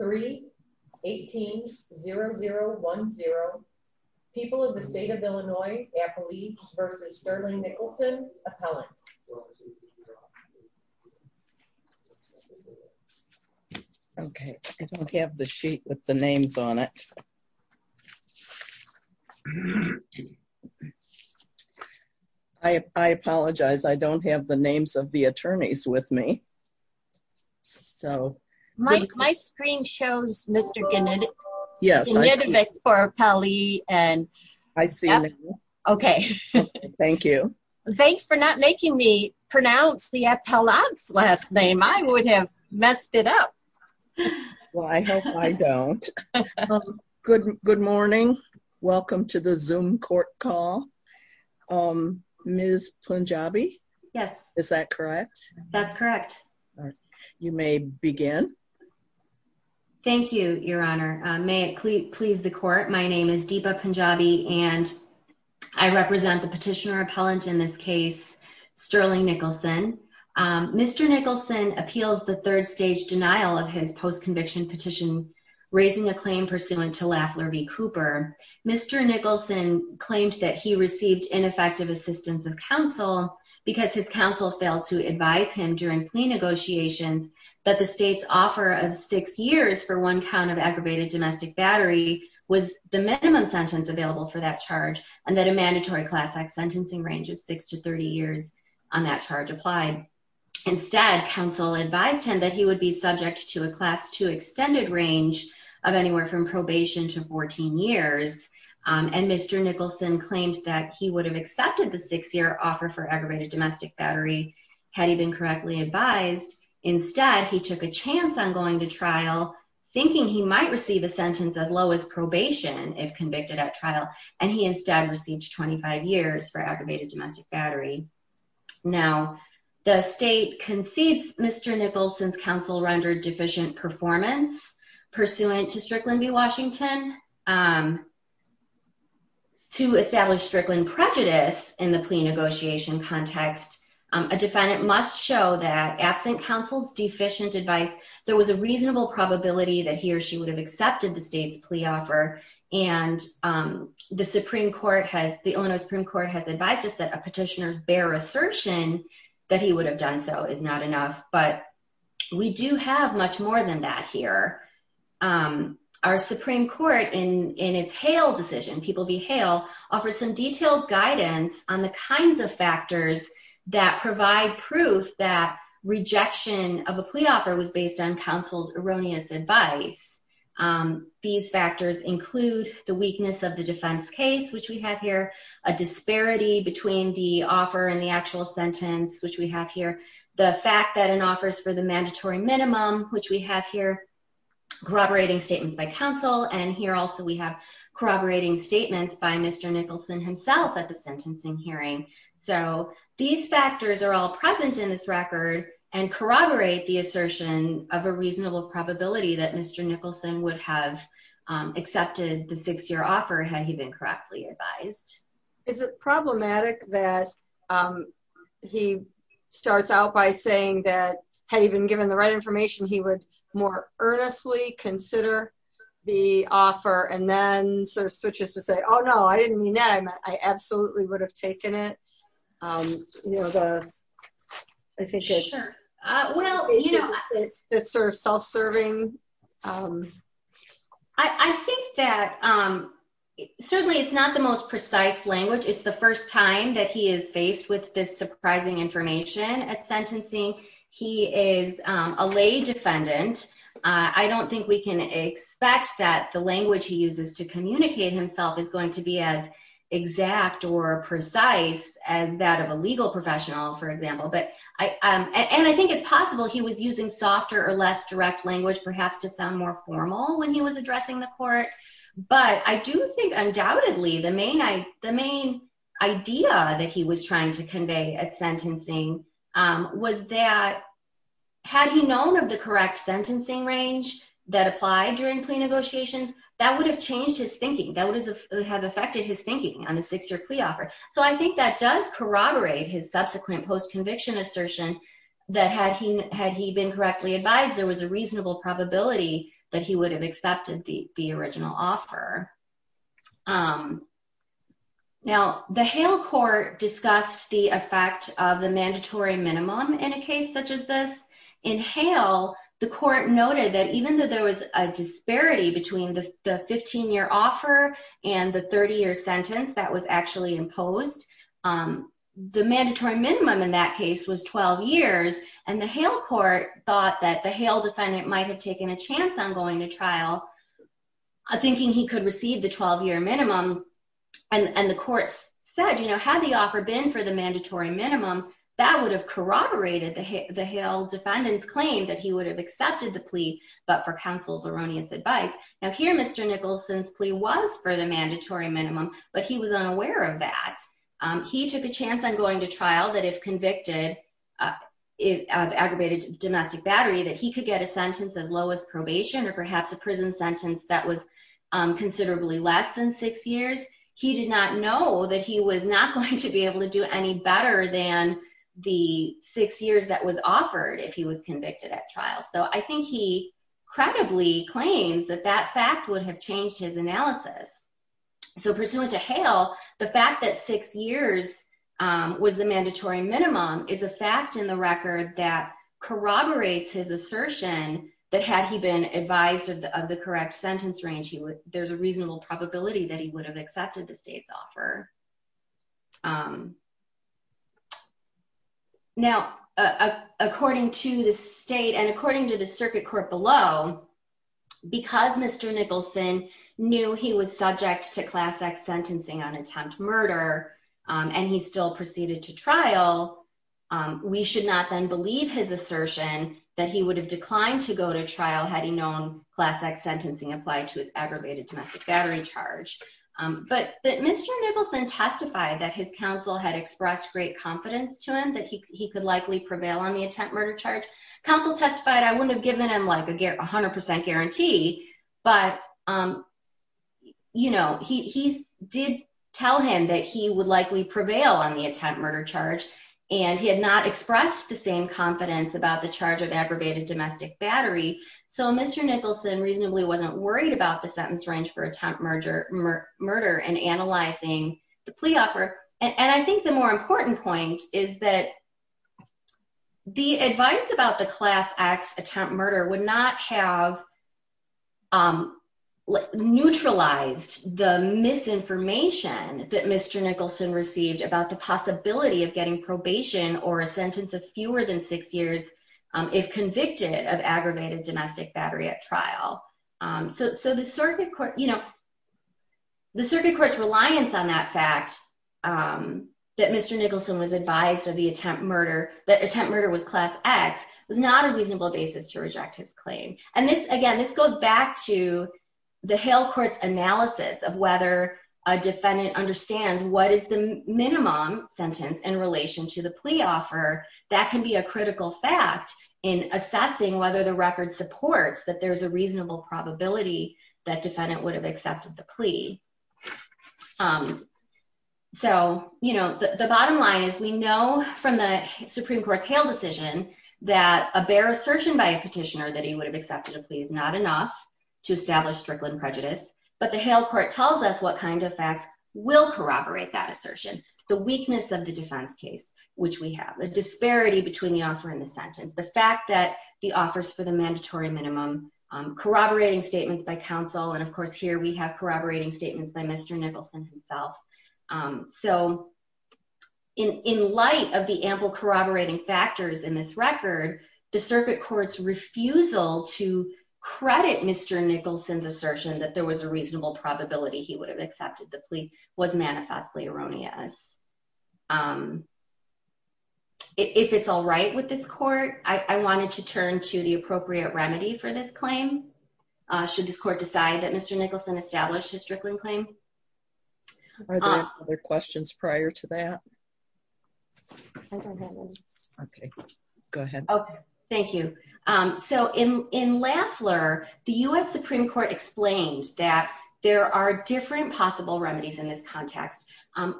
3-18-0010 People of the State of Illinois, Appalachians v. Sterling Nicholson, Appellant. Okay, I don't have the sheet with the names on it. I apologize, I don't have the names of the attorneys with me. My screen shows Mr. Gnidovic for Appellee. I see. Okay. Thank you. Thanks for not making me pronounce the Appellant's last name. I would have messed it up. Well, I hope I don't. Good morning. Welcome to the Zoom court call. Ms. Punjabi? Yes. Is that correct? That's correct. You may begin. Thank you, Your Honor. May it please the court, my name is Deepa Punjabi and I represent the petitioner appellant in this case, Sterling Nicholson. Mr. Nicholson appeals the third stage denial of his post-conviction petition, raising a claim pursuant to Lafler v. Cooper. Mr. Nicholson claimed that he received ineffective assistance of counsel because his counsel failed to advise him during plea negotiations that the state's offer of six years for one count of aggravated domestic battery was the minimum sentence available for that charge and that a mandatory class act sentencing range of six to 30 years on that charge applied. Instead, counsel advised him that he would be subject to a class two extended range of anywhere from probation to 14 years. And Mr. Nicholson claimed that he would have accepted the six-year offer for aggravated domestic battery had he been correctly advised. Instead, he took a chance on going to trial, thinking he might receive a sentence as low as probation if convicted at trial, and he instead received 25 years for aggravated domestic battery. Now, the state concedes Mr. Nicholson's counsel rendered deficient performance pursuant to Strickland v. Washington. To establish Strickland prejudice in the plea negotiation context, a defendant must show that absent counsel's deficient advice, there was a reasonable probability that he or she would have accepted the state's plea offer, and the Illinois Supreme Court has advised us that a petitioner's bare assertion that he would have done so is not enough, but we do have much more than that here. Our Supreme Court, in its Hale decision, people v. Hale, offered some detailed guidance on the kinds of factors that provide proof that rejection of a plea offer was based on counsel's erroneous advice. These factors include the weakness of the defense case, which we have here, a disparity between the offer and the actual sentence, which we have here, the fact that an offer is for the mandatory minimum, which we have here. Corroborating statements by counsel, and here also we have corroborating statements by Mr. Nicholson himself at the sentencing hearing. So, these factors are all present in this record and corroborate the assertion of a reasonable probability that Mr. Nicholson would have accepted the six-year offer had he been correctly advised. Is it problematic that he starts out by saying that, had he been given the right information, he would more earnestly consider the offer, and then sort of switches to say, oh no, I didn't mean that, I absolutely would have taken it? I think it's sort of self-serving. I think that certainly it's not the most precise language. It's the first time that he is faced with this surprising information at sentencing. He is a lay defendant. I don't think we can expect that the language he uses to communicate himself is going to be as exact or precise as that of a legal professional, for example. And I think it's possible he was using softer or less direct language, perhaps to sound more formal when he was addressing the court. But I do think undoubtedly the main idea that he was trying to convey at sentencing was that, had he known of the correct sentencing range that applied during plea negotiations, that would have changed his thinking. That would have affected his thinking on the six-year plea offer. So I think that does corroborate his subsequent post-conviction assertion that, had he been correctly advised, there was a reasonable probability that he would have accepted the original offer. Now, the Hale court discussed the effect of the mandatory minimum in a case such as this. In Hale, the court noted that even though there was a disparity between the 15-year offer and the 30-year sentence that was actually imposed, the mandatory minimum in that case was 12 years. And the Hale court thought that the Hale defendant might have taken a chance on going to trial, thinking he could receive the 12-year minimum. And the courts said, had the offer been for the mandatory minimum, that would have corroborated the Hale defendant's claim that he would have accepted the plea, but for counsel's erroneous advice. Now, here, Mr. Nicholson's plea was for the mandatory minimum, but he was unaware of that. He took a chance on going to trial, that if convicted of aggravated domestic battery, that he could get a sentence as low as probation or perhaps a prison sentence that was considerably less than six years. He did not know that he was not going to be able to do any better than the six years that was offered if he was convicted at trial. So I think he credibly claims that that fact would have changed his analysis. So pursuant to Hale, the fact that six years was the mandatory minimum is a fact in the record that corroborates his assertion that had he been advised of the correct sentence range, there's a reasonable probability that he would have accepted the state's offer. Now, according to the state and according to the circuit court below, because Mr. Nicholson knew he was subject to Class X sentencing on attempt murder, and he still proceeded to trial, we should not then believe his assertion that he would have declined to go to trial had he known Class X sentencing applied to his aggravated domestic battery charge. But Mr. Nicholson testified that his counsel had expressed great confidence to him that he could likely prevail on the attempt murder charge. Counsel testified, I wouldn't have given him a 100% guarantee, but he did tell him that he would likely prevail on the attempt murder charge, and he had not expressed the same confidence about the charge of aggravated domestic battery. So Mr. Nicholson reasonably wasn't worried about the sentence range for attempt murder and analyzing the plea offer. And I think the more important point is that the advice about the Class X attempt murder would not have neutralized the misinformation that Mr. Nicholson received about the possibility of getting probation or a sentence of fewer than six years if convicted of aggravated domestic battery at trial. So the circuit court's reliance on that fact that Mr. Nicholson was advised of the attempt murder, that attempt murder was Class X, was not a reasonable basis to reject his claim. And this, again, this goes back to the Hale court's analysis of whether a defendant understands what is the minimum sentence in relation to the plea offer. That can be a critical fact in assessing whether the record supports that there's a reasonable probability that defendant would have accepted the plea. So, you know, the bottom line is we know from the Supreme Court's Hale decision that a bare assertion by a petitioner that he would have accepted a plea is not enough to establish strickland prejudice, but the Hale court tells us what kind of facts will corroborate that assertion. The weakness of the defense case, which we have, the disparity between the offer and the sentence, the fact that the offers for the mandatory minimum, corroborating statements by counsel, and of course here we have corroborating statements by Mr. Nicholson himself. So, in light of the ample corroborating factors in this record, the circuit court's refusal to credit Mr. Nicholson's assertion that there was a reasonable probability he would have accepted the plea was manifestly erroneous. If it's all right with this court, I wanted to turn to the appropriate remedy for this claim. Should this court decide that Mr. Nicholson established a strickland claim? Are there other questions prior to that? Okay, go ahead. Oh, thank you. So, in Lafleur, the U.S. Supreme Court explained that there are different possible remedies in this context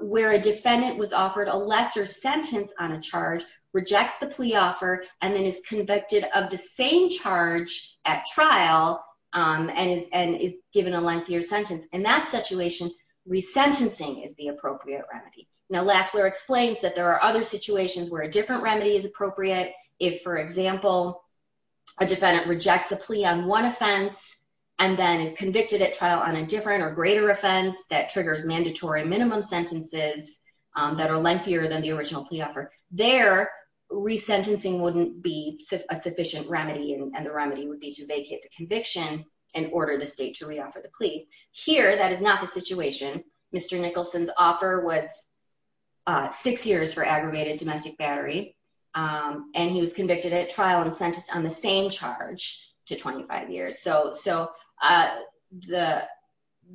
where a defendant was offered a lesser sentence on a charge, rejects the plea offer, and then is convicted of the same charge at trial and is given a lengthier sentence. In that situation, resentencing is the appropriate remedy. Now, Lafleur explains that there are other situations where a different remedy is appropriate. If, for example, a defendant rejects a plea on one offense and then is convicted at trial on a different or greater offense that triggers mandatory minimum sentences that are lengthier than the original plea offer, there, resentencing wouldn't be a sufficient remedy and the remedy would be to vacate the conviction and order the state to reoffer the plea. Here, that is not the situation. Mr. Nicholson's offer was six years for aggravated domestic battery, and he was convicted at trial and sentenced on the same charge to 25 years. So,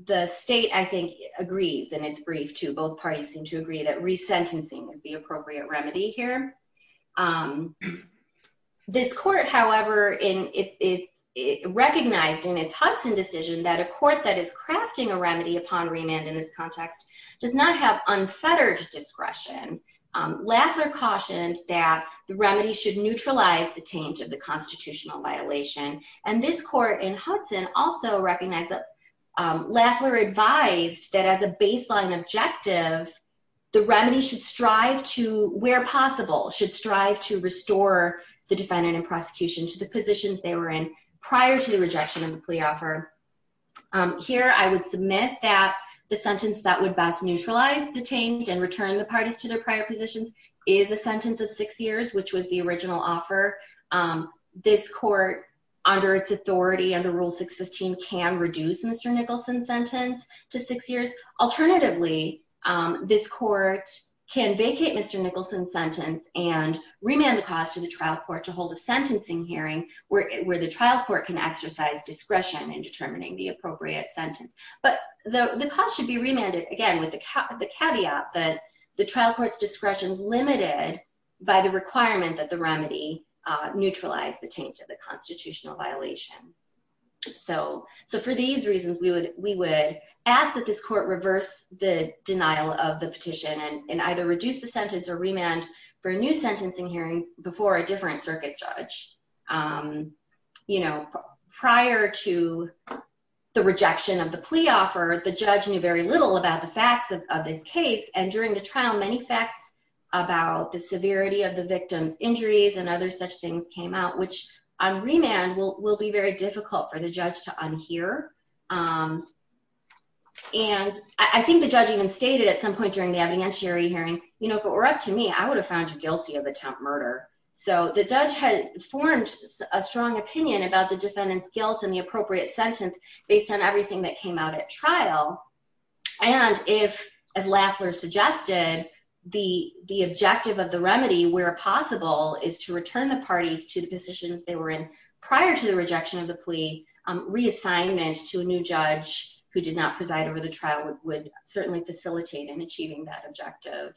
the state, I think, agrees, and it's brief, too. Both parties seem to agree that resentencing is the appropriate remedy here. This court, however, recognized in its Hudson decision that a court that is crafting a remedy upon remand in this context does not have unfettered discretion. Lafleur cautioned that the remedy should neutralize the taint of the constitutional violation. And this court in Hudson also recognized that Lafleur advised that as a baseline objective, the remedy should strive to, where possible, should strive to restore the defendant in prosecution to the positions they were in prior to the rejection of the plea offer. Here, I would submit that the sentence that would best neutralize the taint and return the parties to their prior positions is a sentence of six years, which was the original offer. This court, under its authority under Rule 615, can reduce Mr. Nicholson's sentence to six years. Alternatively, this court can vacate Mr. Nicholson's sentence and remand the cause to the trial court to hold a sentencing hearing where the trial court can exercise discretion in determining the appropriate sentence. But the cause should be remanded, again, with the caveat that the trial court's discretion is limited by the requirement that the remedy neutralize the taint of the constitutional violation. So for these reasons, we would ask that this court reverse the denial of the petition and either reduce the sentence or remand for a new sentencing hearing before a different circuit judge. You know, prior to the rejection of the plea offer, the judge knew very little about the facts of this case. And during the trial, many facts about the severity of the victim's injuries and other such things came out, which on remand will be very difficult for the judge to unhear. And I think the judge even stated at some point during the evidentiary hearing, you know, if it were up to me, I would have found you guilty of attempt murder. So the judge had formed a strong opinion about the defendant's guilt and the appropriate sentence based on everything that came out at trial. And if, as Laffler suggested, the objective of the remedy, where possible, is to return the parties to the positions they were in prior to the rejection of the plea, reassignment to a new judge who did not preside over the trial would certainly facilitate in achieving that objective.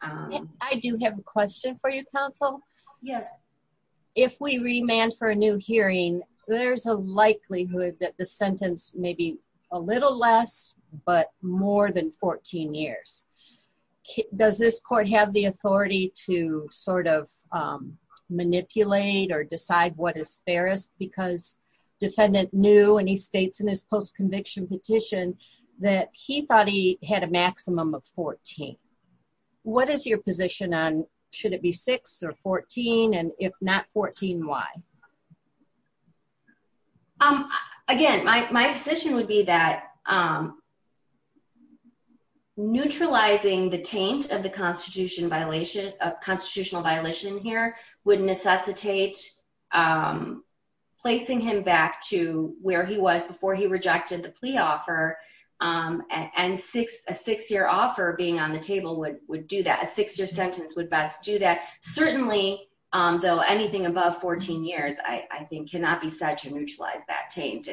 I do have a question for you, counsel. Yes. If we remand for a new hearing, there's a likelihood that the sentence may be a little less, but more than 14 years. Does this court have the authority to sort of manipulate or decide what is fairest because defendant knew, and he states in his post-conviction petition, that he thought he had a maximum of 14. What is your position on should it be six or 14, and if not 14, why? Again, my position would be that neutralizing the taint of the constitutional violation here would necessitate placing him back to where he was before he rejected the plea offer. And a six-year offer being on the table would do that. A six-year sentence would best do that. Certainly, though, anything above 14 years, I think, cannot be said to neutralize that taint.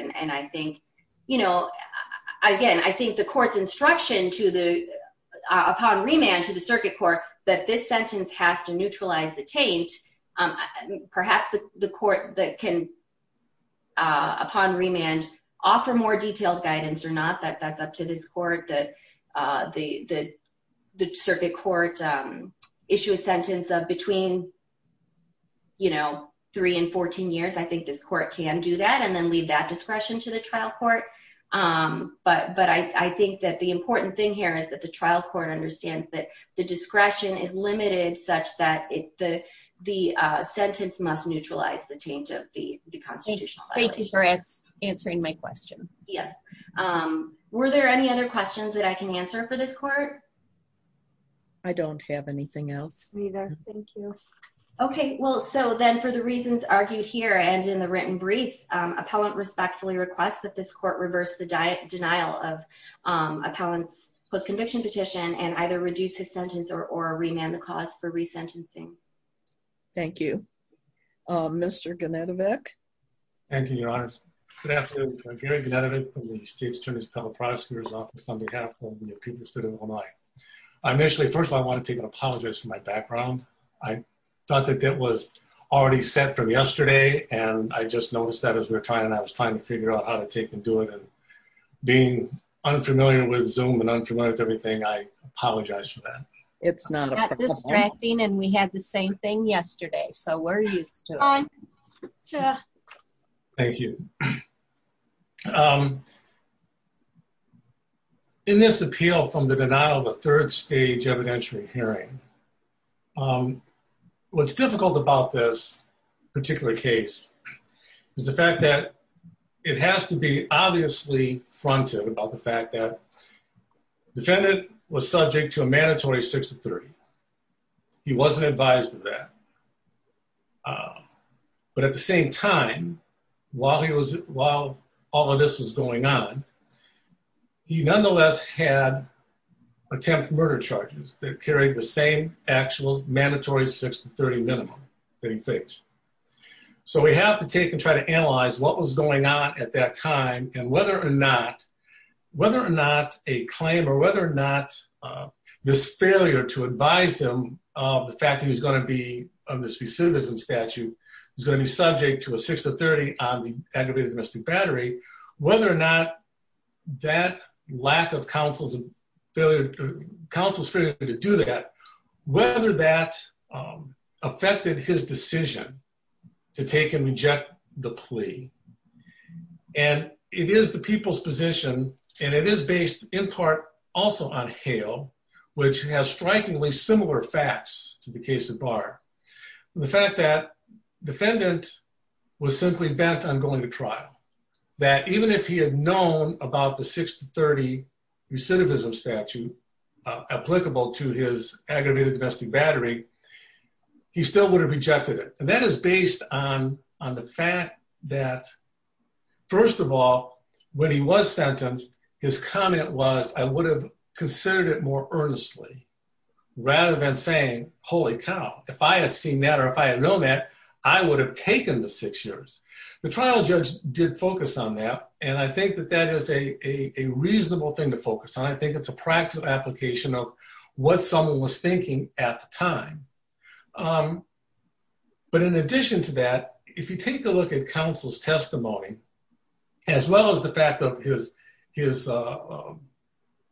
Again, I think the court's instruction upon remand to the circuit court that this sentence has to neutralize the taint, perhaps the court that can, upon remand, offer more detailed guidance or not, that's up to this court. The circuit court issued a sentence of between three and 14 years. I think this court can do that and then leave that discretion to the trial court. But I think that the important thing here is that the trial court understands that the discretion is limited such that the sentence must neutralize the taint of the constitutional violation. Thank you for answering my question. Yes. Were there any other questions that I can answer for this court? I don't have anything else. Neither. Thank you. Okay. Well, so then, for the reasons argued here and in the written briefs, appellant respectfully requests that this court reverse the denial of appellant's post-conviction petition and either reduce his sentence or remand the cause for resentencing. Thank you. Mr. Genetovic? Thank you, Your Honors. Good afternoon. I'm Gary Genetovic from the U.S. Attorney's Appellate Prosecutor's Office on behalf of the people of the city of Illinois. Initially, first of all, I want to take an apology for my background. I thought that that was already set from yesterday, and I just noticed that as we were trying, and I was trying to figure out how to take and do it, and being unfamiliar with Zoom and unfamiliar with everything, I apologize for that. It's not a problem. Not distracting, and we had the same thing yesterday, so we're used to it. Thank you. In this appeal from the denial of a third stage evidentiary hearing, what's difficult about this particular case is the fact that it has to be obviously fronted about the fact that the defendant was subject to a mandatory 6-30. He wasn't advised of that. But at the same time, while all of this was going on, he nonetheless had attempt murder charges that carried the same actual mandatory 6-30 minimum that he faced. So we have to take and try to analyze what was going on at that time and whether or not a claim or whether or not this failure to advise him of the fact that he was going to be on this recidivism statute, he was going to be subject to a 6-30 on the aggravated domestic battery, whether or not that lack of counsel's failure to do that, whether that affected his decision to take and reject the plea. And it is the people's position, and it is based in part also on Hale, which has strikingly similar facts to the case of Barr. The fact that defendant was simply bent on going to trial, that even if he had known about the 6-30 recidivism statute applicable to his aggravated domestic battery, he still would have rejected it. And that is based on the fact that, first of all, when he was sentenced, his comment was, I would have considered it more earnestly, rather than saying, holy cow, if I had seen that or if I had known that, I would have taken the six years. The trial judge did focus on that. And I think that that is a reasonable thing to focus on. I think it's a practical application of what someone was thinking at the time. But in addition to that, if you take a look at counsel's testimony, as well as the fact of his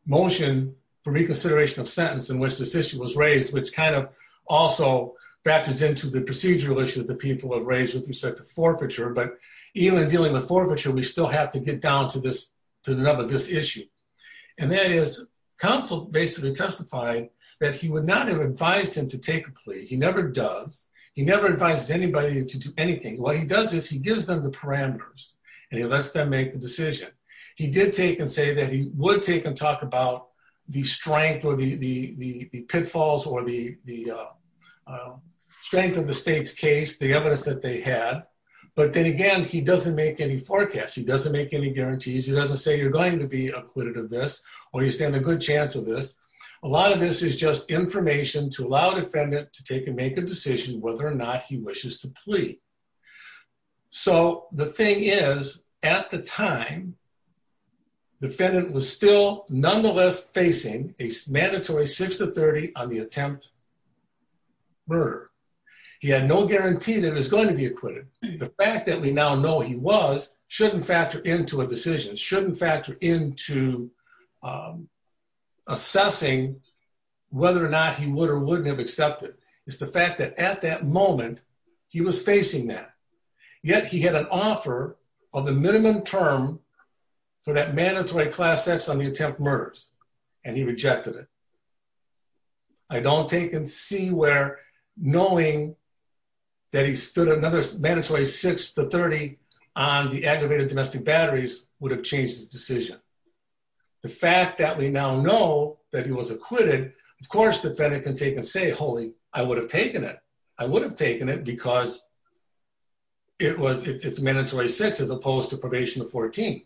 motion for reconsideration of sentence in which this issue was raised, which kind of also factors into the procedural issue that the people have raised with respect to forfeiture, but even dealing with forfeiture, we still have to get down to this issue. And that is, counsel basically testified that he would not have advised him to take a plea. He never does. He never advises anybody to do anything. What he does is he gives them the parameters and he lets them make the decision. He did take and say that he would take and talk about the strength or the pitfalls or the strength of the state's case, the evidence that they had. But then again, he doesn't make any forecasts. He doesn't make any guarantees. He doesn't say you're going to be acquitted of this or you stand a good chance of this. A lot of this is just information to allow defendant to take and make a decision whether or not he wishes to plea. So the thing is, at the time, defendant was still nonetheless facing a mandatory 6 to 30 on the attempt murder. He had no guarantee that he was going to be acquitted. The fact that we now know he was shouldn't factor into a decision, shouldn't factor into assessing whether or not he would or wouldn't have accepted. It's the fact that at that moment, he was facing that. Yet he had an offer on the minimum term for that mandatory class X on the attempt murders. And he rejected it. I don't take and see where knowing that he stood another mandatory 6 to 30 on the aggravated domestic batteries would have changed his decision. The fact that we now know that he was acquitted, of course, defendant can take and say, holy, I would have taken it. I would have taken it because it's mandatory 6 as opposed to probation 14.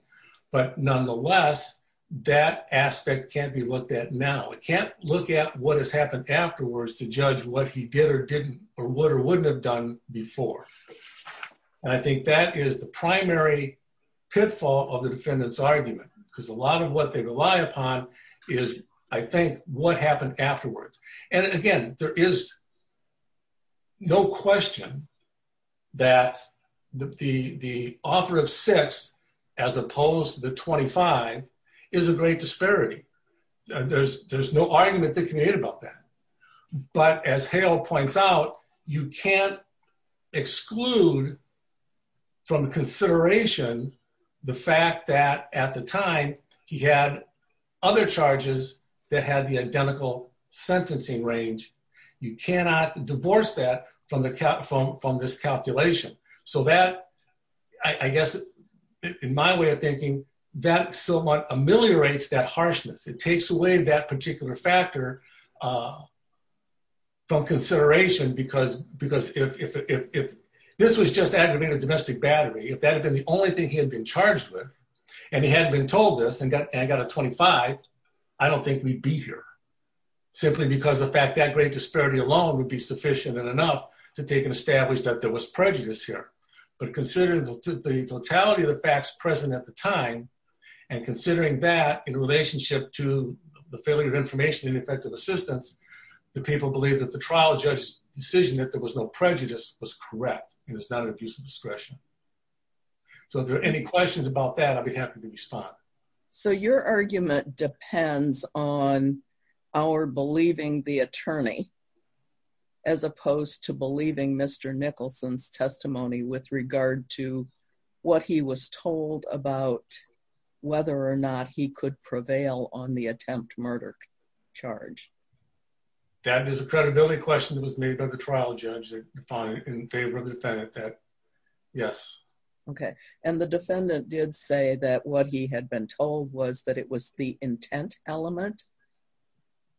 But nonetheless, that aspect can't be looked at now. It can't look at what has happened afterwards to judge what he did or didn't or would or wouldn't have done before. And I think that is the primary pitfall of the defendant's argument because a lot of what they rely upon is, I think, what happened afterwards. And again, there is no question that the offer of 6 as opposed to the 25 is a great disparity. There's no argument that can be made about that. But as Hale points out, you can't exclude from consideration the fact that at the time, he had other charges that had the identical sentencing range. You cannot divorce that from this calculation. So that, I guess, in my way of thinking, that somewhat ameliorates that harshness. It takes away that particular factor from consideration because if this was just aggravated domestic battery, if that had been the only thing he had been charged with and he hadn't been told this and got a 25, I don't think we'd be here. Simply because the fact that great disparity alone would be sufficient and enough to take and establish that there was prejudice here. But considering the totality of the facts present at the time and considering that in relationship to the failure of information and effective assistance, the people believe that the trial judge's decision that there was no prejudice was correct and it's not an abuse of discretion. So if there are any questions about that, I'd be happy to respond. So your argument depends on our believing the attorney as opposed to believing Mr. Nicholson's testimony with regard to what he was told about whether or not he could prevail on the attempt murder charge. That is a credibility question that was made by the trial judge in favor of the defendant. Yes. Okay. And the defendant did say that what he had been told was that it was the intent element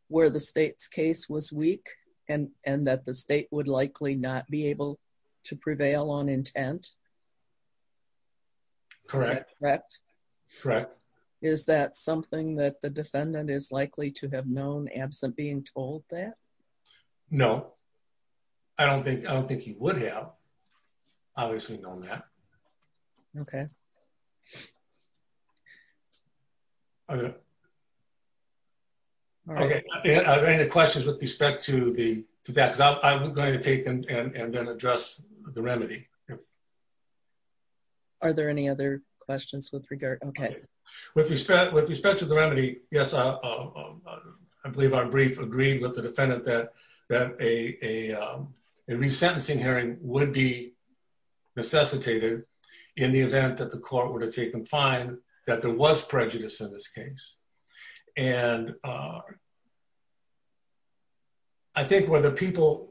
where the state's case was weak and that the state would likely not be able to prevail on intent. Correct. Correct. Correct. Is that something that the defendant is likely to have known absent being told that? No. I don't think he would have obviously known that. Okay. Are there any questions with respect to that? Because I'm going to take and then address the remedy. Are there any other questions with regard? Okay. With respect to the remedy, yes, I believe our brief agreed with the defendant that a resentencing hearing would be necessitated in the event that the court were to take and find that there was prejudice in this case. And I think whether people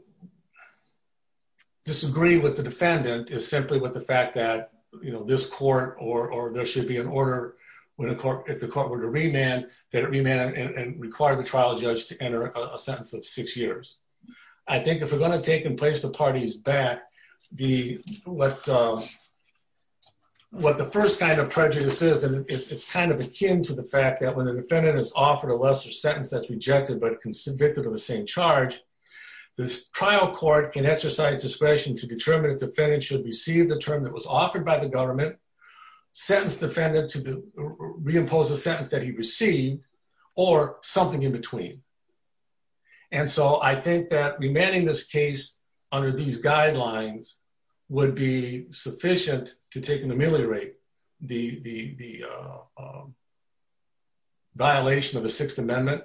disagree with the defendant is simply with the fact that, you know, this court or there should be an order when the court were to remand and require the trial judge to enter a sentence of six years. I think if we're going to take and place the parties back, what the first kind of prejudice is, and it's kind of akin to the fact that when the defendant is offered a lesser sentence that's rejected but convicted of the same charge, the trial court can exercise discretion to determine if the defendant should receive the term that was offered by the government, sentence the defendant to reimpose the sentence that he received, or something in between. And so I think that remanding this case under these guidelines would be sufficient to take and ameliorate the violation of the Sixth Amendment.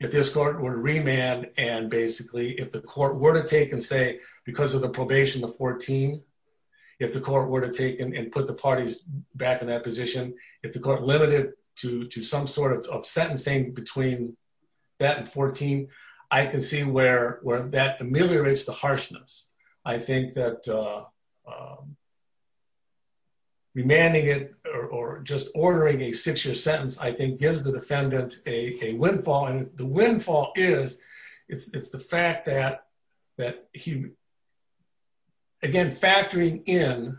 If this court were to remand and basically if the court were to take and say because of the probation of 14, if the court were to take and put the parties back in that position, if the court limited to some sort of sentencing between that and 14, I can see where that ameliorates the harshness. I think that remanding it or just ordering a six-year sentence I think gives the defendant a windfall, and the windfall is it's the fact that he, again, factoring in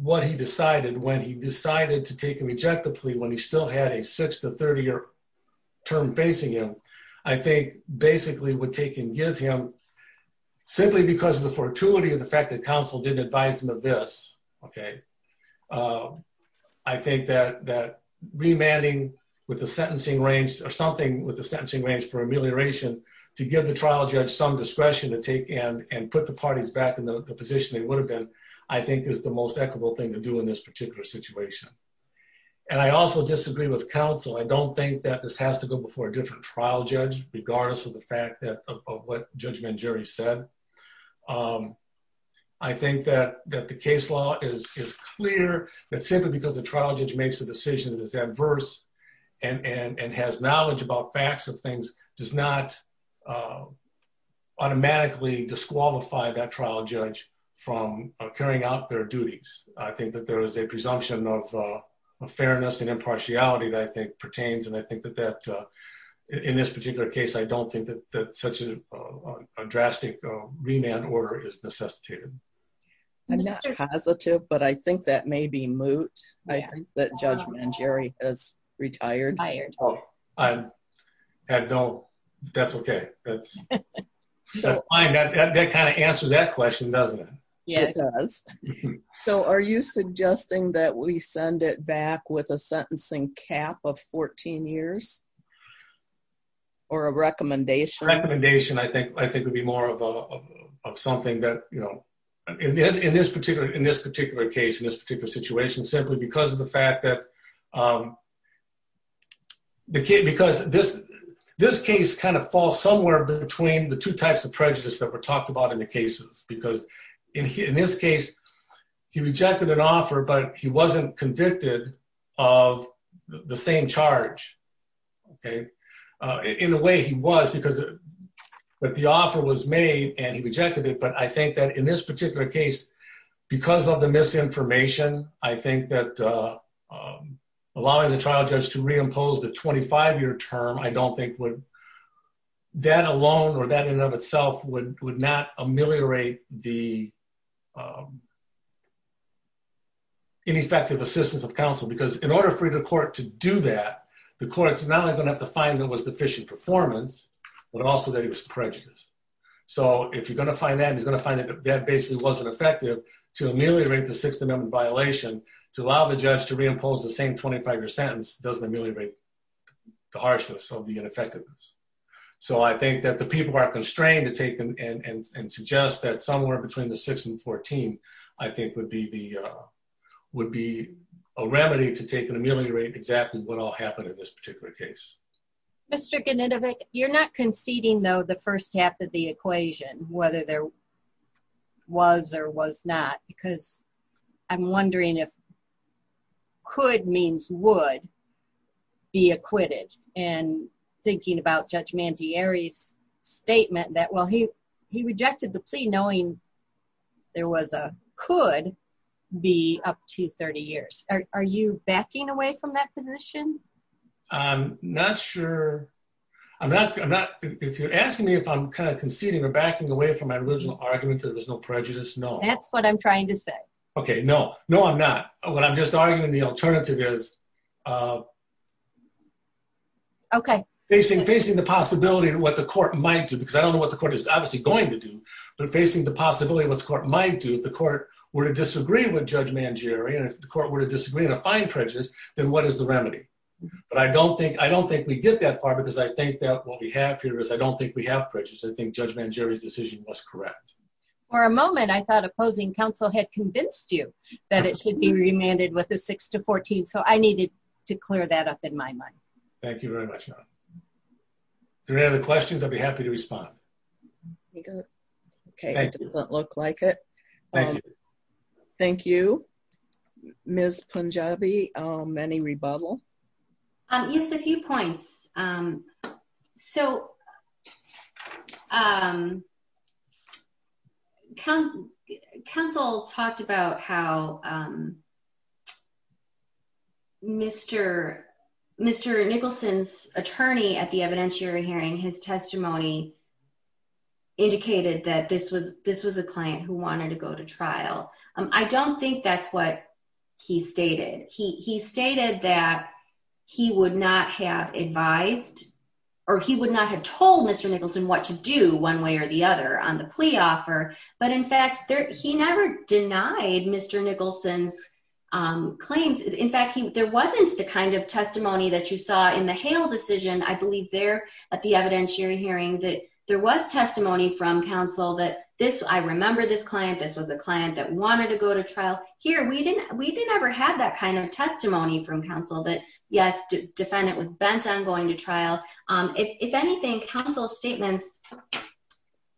what he decided when he decided to take and reject the plea when he still had a six to 30-year term facing him, I think basically would take and give him Simply because of the fortuity of the fact that counsel didn't advise him of this, okay, I think that remanding with the sentencing range or something with the sentencing range for amelioration to give the trial judge some discretion to take and put the parties back in the position they would have been, I think is the most equitable thing to do in this particular situation. And I also disagree with counsel. I don't think that this has to go before a different trial judge, regardless of the fact of what Judge Mangieri said. I think that the case law is clear that simply because the trial judge makes a decision that is adverse and has knowledge about facts of things does not automatically disqualify that trial judge from carrying out their duties. I think that there is a presumption of fairness and impartiality that I think pertains, and I think that in this particular case, I don't think that such a drastic remand order is necessitated. I'm not positive, but I think that may be moot. I think that Judge Mangieri has retired. I don't, that's okay. That kind of answers that question, doesn't it? It does. So are you suggesting that we send it back with a sentencing cap of 14 years? Or a recommendation? Recommendation, I think, would be more of something that, you know, in this particular case, in this particular situation, simply because of the fact that because this case kind of falls somewhere between the two types of prejudice that were talked about in the cases. Because in his case, he rejected an offer, but he wasn't convicted of the same charge. In a way, he was, because the offer was made and he rejected it. But I think that in this particular case, because of the misinformation, I think that allowing the trial judge to reimpose the 25-year term, I don't think would, that alone or that in and of itself would not ameliorate the ineffective assistance of counsel. Because in order for the court to do that, the courts are not only going to have to find that it was deficient performance, but also that it was prejudice. So if you're going to find that, he's going to find that that basically wasn't effective. To ameliorate the Sixth Amendment violation, to allow the judge to reimpose the same 25-year sentence doesn't ameliorate the harshness of the ineffectiveness. So I think that the people are constrained to take them and suggest that somewhere between the 6th and 14th, I think would be a remedy to take and ameliorate exactly what all happened in this particular case. Mr. Ganinovic, you're not conceding though the first half of the equation, whether there was or was not, because I'm wondering if could means would be acquitted. And thinking about Judge Mantieri's statement that, well, he rejected the plea knowing there was a could be up to 30 years. Are you backing away from that position? I'm not sure. If you're asking me if I'm kind of conceding or backing away from my original argument that there was no prejudice, no. That's what I'm trying to say. Okay, no. No, I'm not. What I'm just arguing the alternative is facing the possibility of what the court might do, because I don't know what the court is obviously going to do. But facing the possibility of what the court might do, if the court were to disagree with Judge Mantieri, and if the court were to disagree and find prejudice, then what is the remedy? But I don't think we get that far because I think that what we have here is I don't think we have prejudice. I think Judge Mantieri's decision was correct. For a moment, I thought opposing counsel had convinced you that it should be remanded with the 6th to 14th, so I needed to clear that up in my mind. Thank you very much. If there are any other questions, I'd be happy to respond. Okay, it doesn't look like it. Thank you. Thank you. Ms. Punjabi, any rebuttal? Yes, a few points. So, counsel talked about how Mr. Nicholson's attorney at the evidentiary hearing, his testimony indicated that this was a client who wanted to go to trial. I don't think that's what he stated. He stated that he would not have advised or he would not have told Mr. Nicholson what to do one way or the other on the plea offer. But in fact, he never denied Mr. Nicholson's claims. In fact, there wasn't the kind of testimony that you saw in the Hale decision, I believe there at the evidentiary hearing, that there was testimony from counsel that this, I remember this client, this was a client that wanted to go to trial. Here, we didn't ever have that kind of testimony from counsel that, yes, defendant was bent on going to trial. If anything, counsel's statements,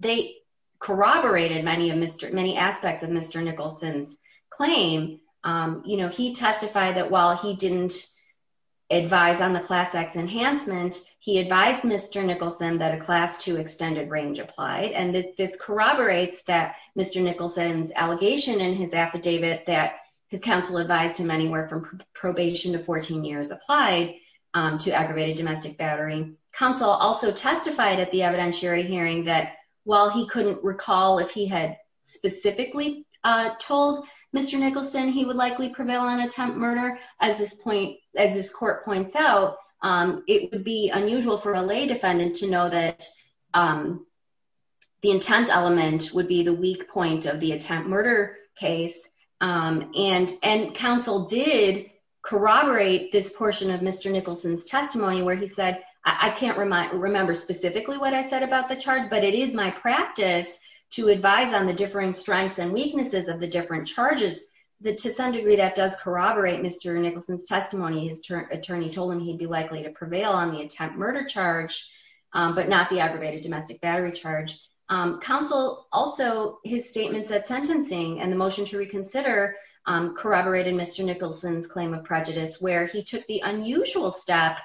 they corroborated many aspects of Mr. Nicholson's claim. You know, he testified that while he didn't advise on the Class X enhancement, he advised Mr. Nicholson that a Class II extended range applied. And this corroborates that Mr. Nicholson's allegation in his affidavit that his counsel advised him anywhere from probation to 14 years applied to aggravated domestic battering. Counsel also testified at the evidentiary hearing that while he couldn't recall if he had specifically told Mr. Nicholson he would likely prevail on attempt murder. As this court points out, it would be unusual for a lay defendant to know that the intent element would be the weak point of the attempt murder case. And counsel did corroborate this portion of Mr. Nicholson's testimony where he said, I can't remember specifically what I said about the charge, but it is my practice to advise on the differing strengths and weaknesses of the different charges. To some degree, that does corroborate Mr. Nicholson's testimony. His attorney told him he'd be likely to prevail on the attempt murder charge, but not the aggravated domestic battery charge. Counsel also, his statements at sentencing and the motion to reconsider corroborated Mr. Nicholson's claim of prejudice where he took the unusual step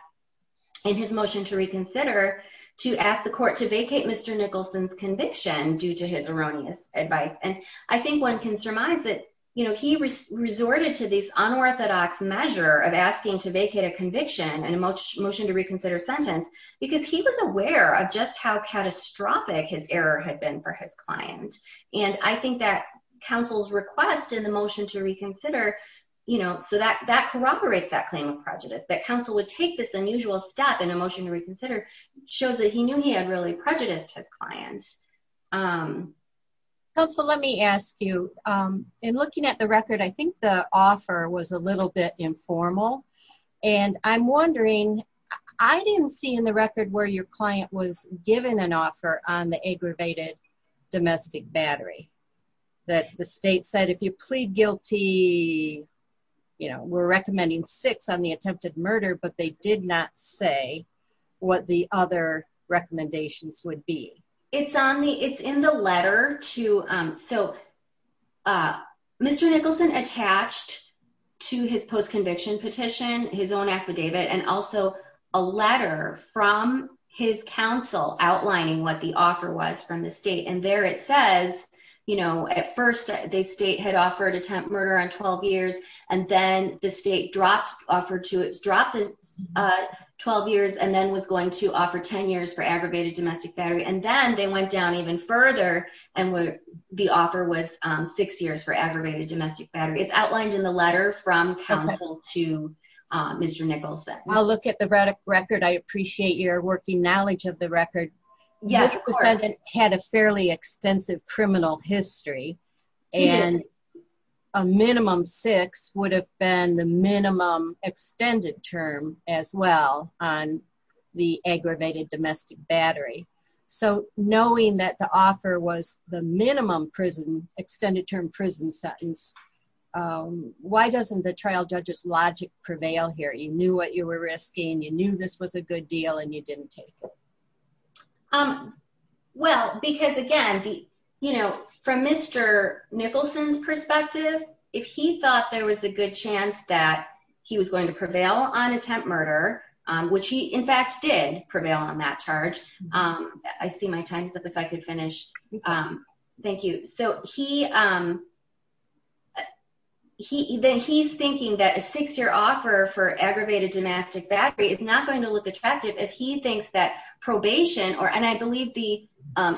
in his motion to reconsider to ask the court to vacate Mr. Nicholson's conviction due to his erroneous advice. And I think one can surmise that he resorted to this unorthodox measure of asking to vacate a conviction in a motion to reconsider sentence because he was aware of just how catastrophic his error had been for his client. And I think that counsel's request in the motion to reconsider, so that corroborates that claim of prejudice, that counsel would take this unusual step in a motion to reconsider shows that he knew he had really prejudiced his client. Counsel, let me ask you, in looking at the record, I think the offer was a little bit informal. And I'm wondering, I didn't see in the record where your client was given an offer on the aggravated domestic battery that the state said if you plead guilty, you know, we're recommending six on the attempted murder, but they did not say what the other recommendations would be. It's in the letter to, so Mr. Nicholson attached to his post conviction petition, his own affidavit, and also a letter from his counsel outlining what the offer was from the state. And there it says, you know, at first they state had offered attempt murder on 12 years, and then the state dropped offer to it's dropped 12 years and then was going to offer 10 years for aggravated domestic battery and then they went down even further, and the offer was six years for aggravated domestic battery. It's outlined in the letter from counsel to Mr. Nicholson. I'll look at the record. I appreciate your working knowledge of the record. Yes. It had a fairly extensive criminal history, and a minimum six would have been the minimum extended term as well on the aggravated domestic battery. So, knowing that the offer was the minimum prison extended term prison sentence. Why doesn't the trial judges logic prevail here you knew what you were risking you knew this was a good deal and you didn't take it. Well, because again, you know, from Mr. Nicholson's perspective, if he thought there was a good chance that he was going to prevail on attempt murder, which he in fact did prevail on that charge. I see my time is up if I could finish. Thank you. So, he he then he's thinking that a six year offer for aggravated domestic battery is not going to look attractive if he thinks that probation or and I believe the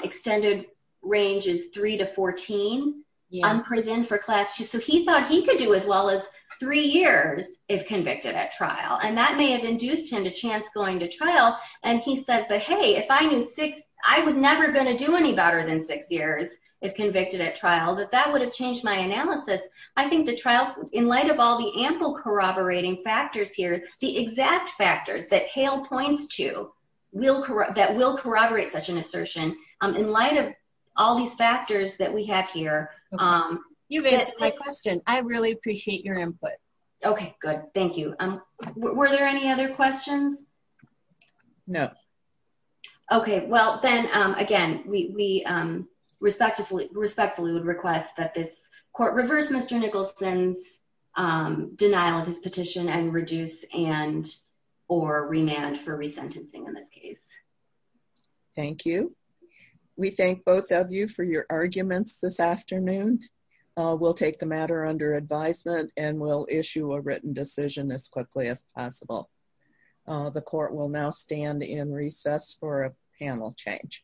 extended range is three to 14. Yeah, I'm present for class to so he thought he could do as well as three years, if convicted at trial and that may have induced him to chance going to trial, and he says but hey if I knew six, I was never going to do any better than six years. If convicted at trial that that would have changed my analysis. I think the trial, in light of all the ample corroborating factors here, the exact factors that hail points to will correct that will corroborate such an assertion. In light of all these factors that we have here. You've answered my question. I really appreciate your input. Okay, good. Thank you. Um, were there any other questions. No. Okay, well then, again, we respectfully respectfully would request that this court reverse Mr Nicholson's denial of his petition and reduce and or remand for resentencing in this case. Thank you. We thank both of you for your arguments this afternoon. We'll take the matter under advisement and will issue a written decision as quickly as possible. The court will now stand in recess for a panel change.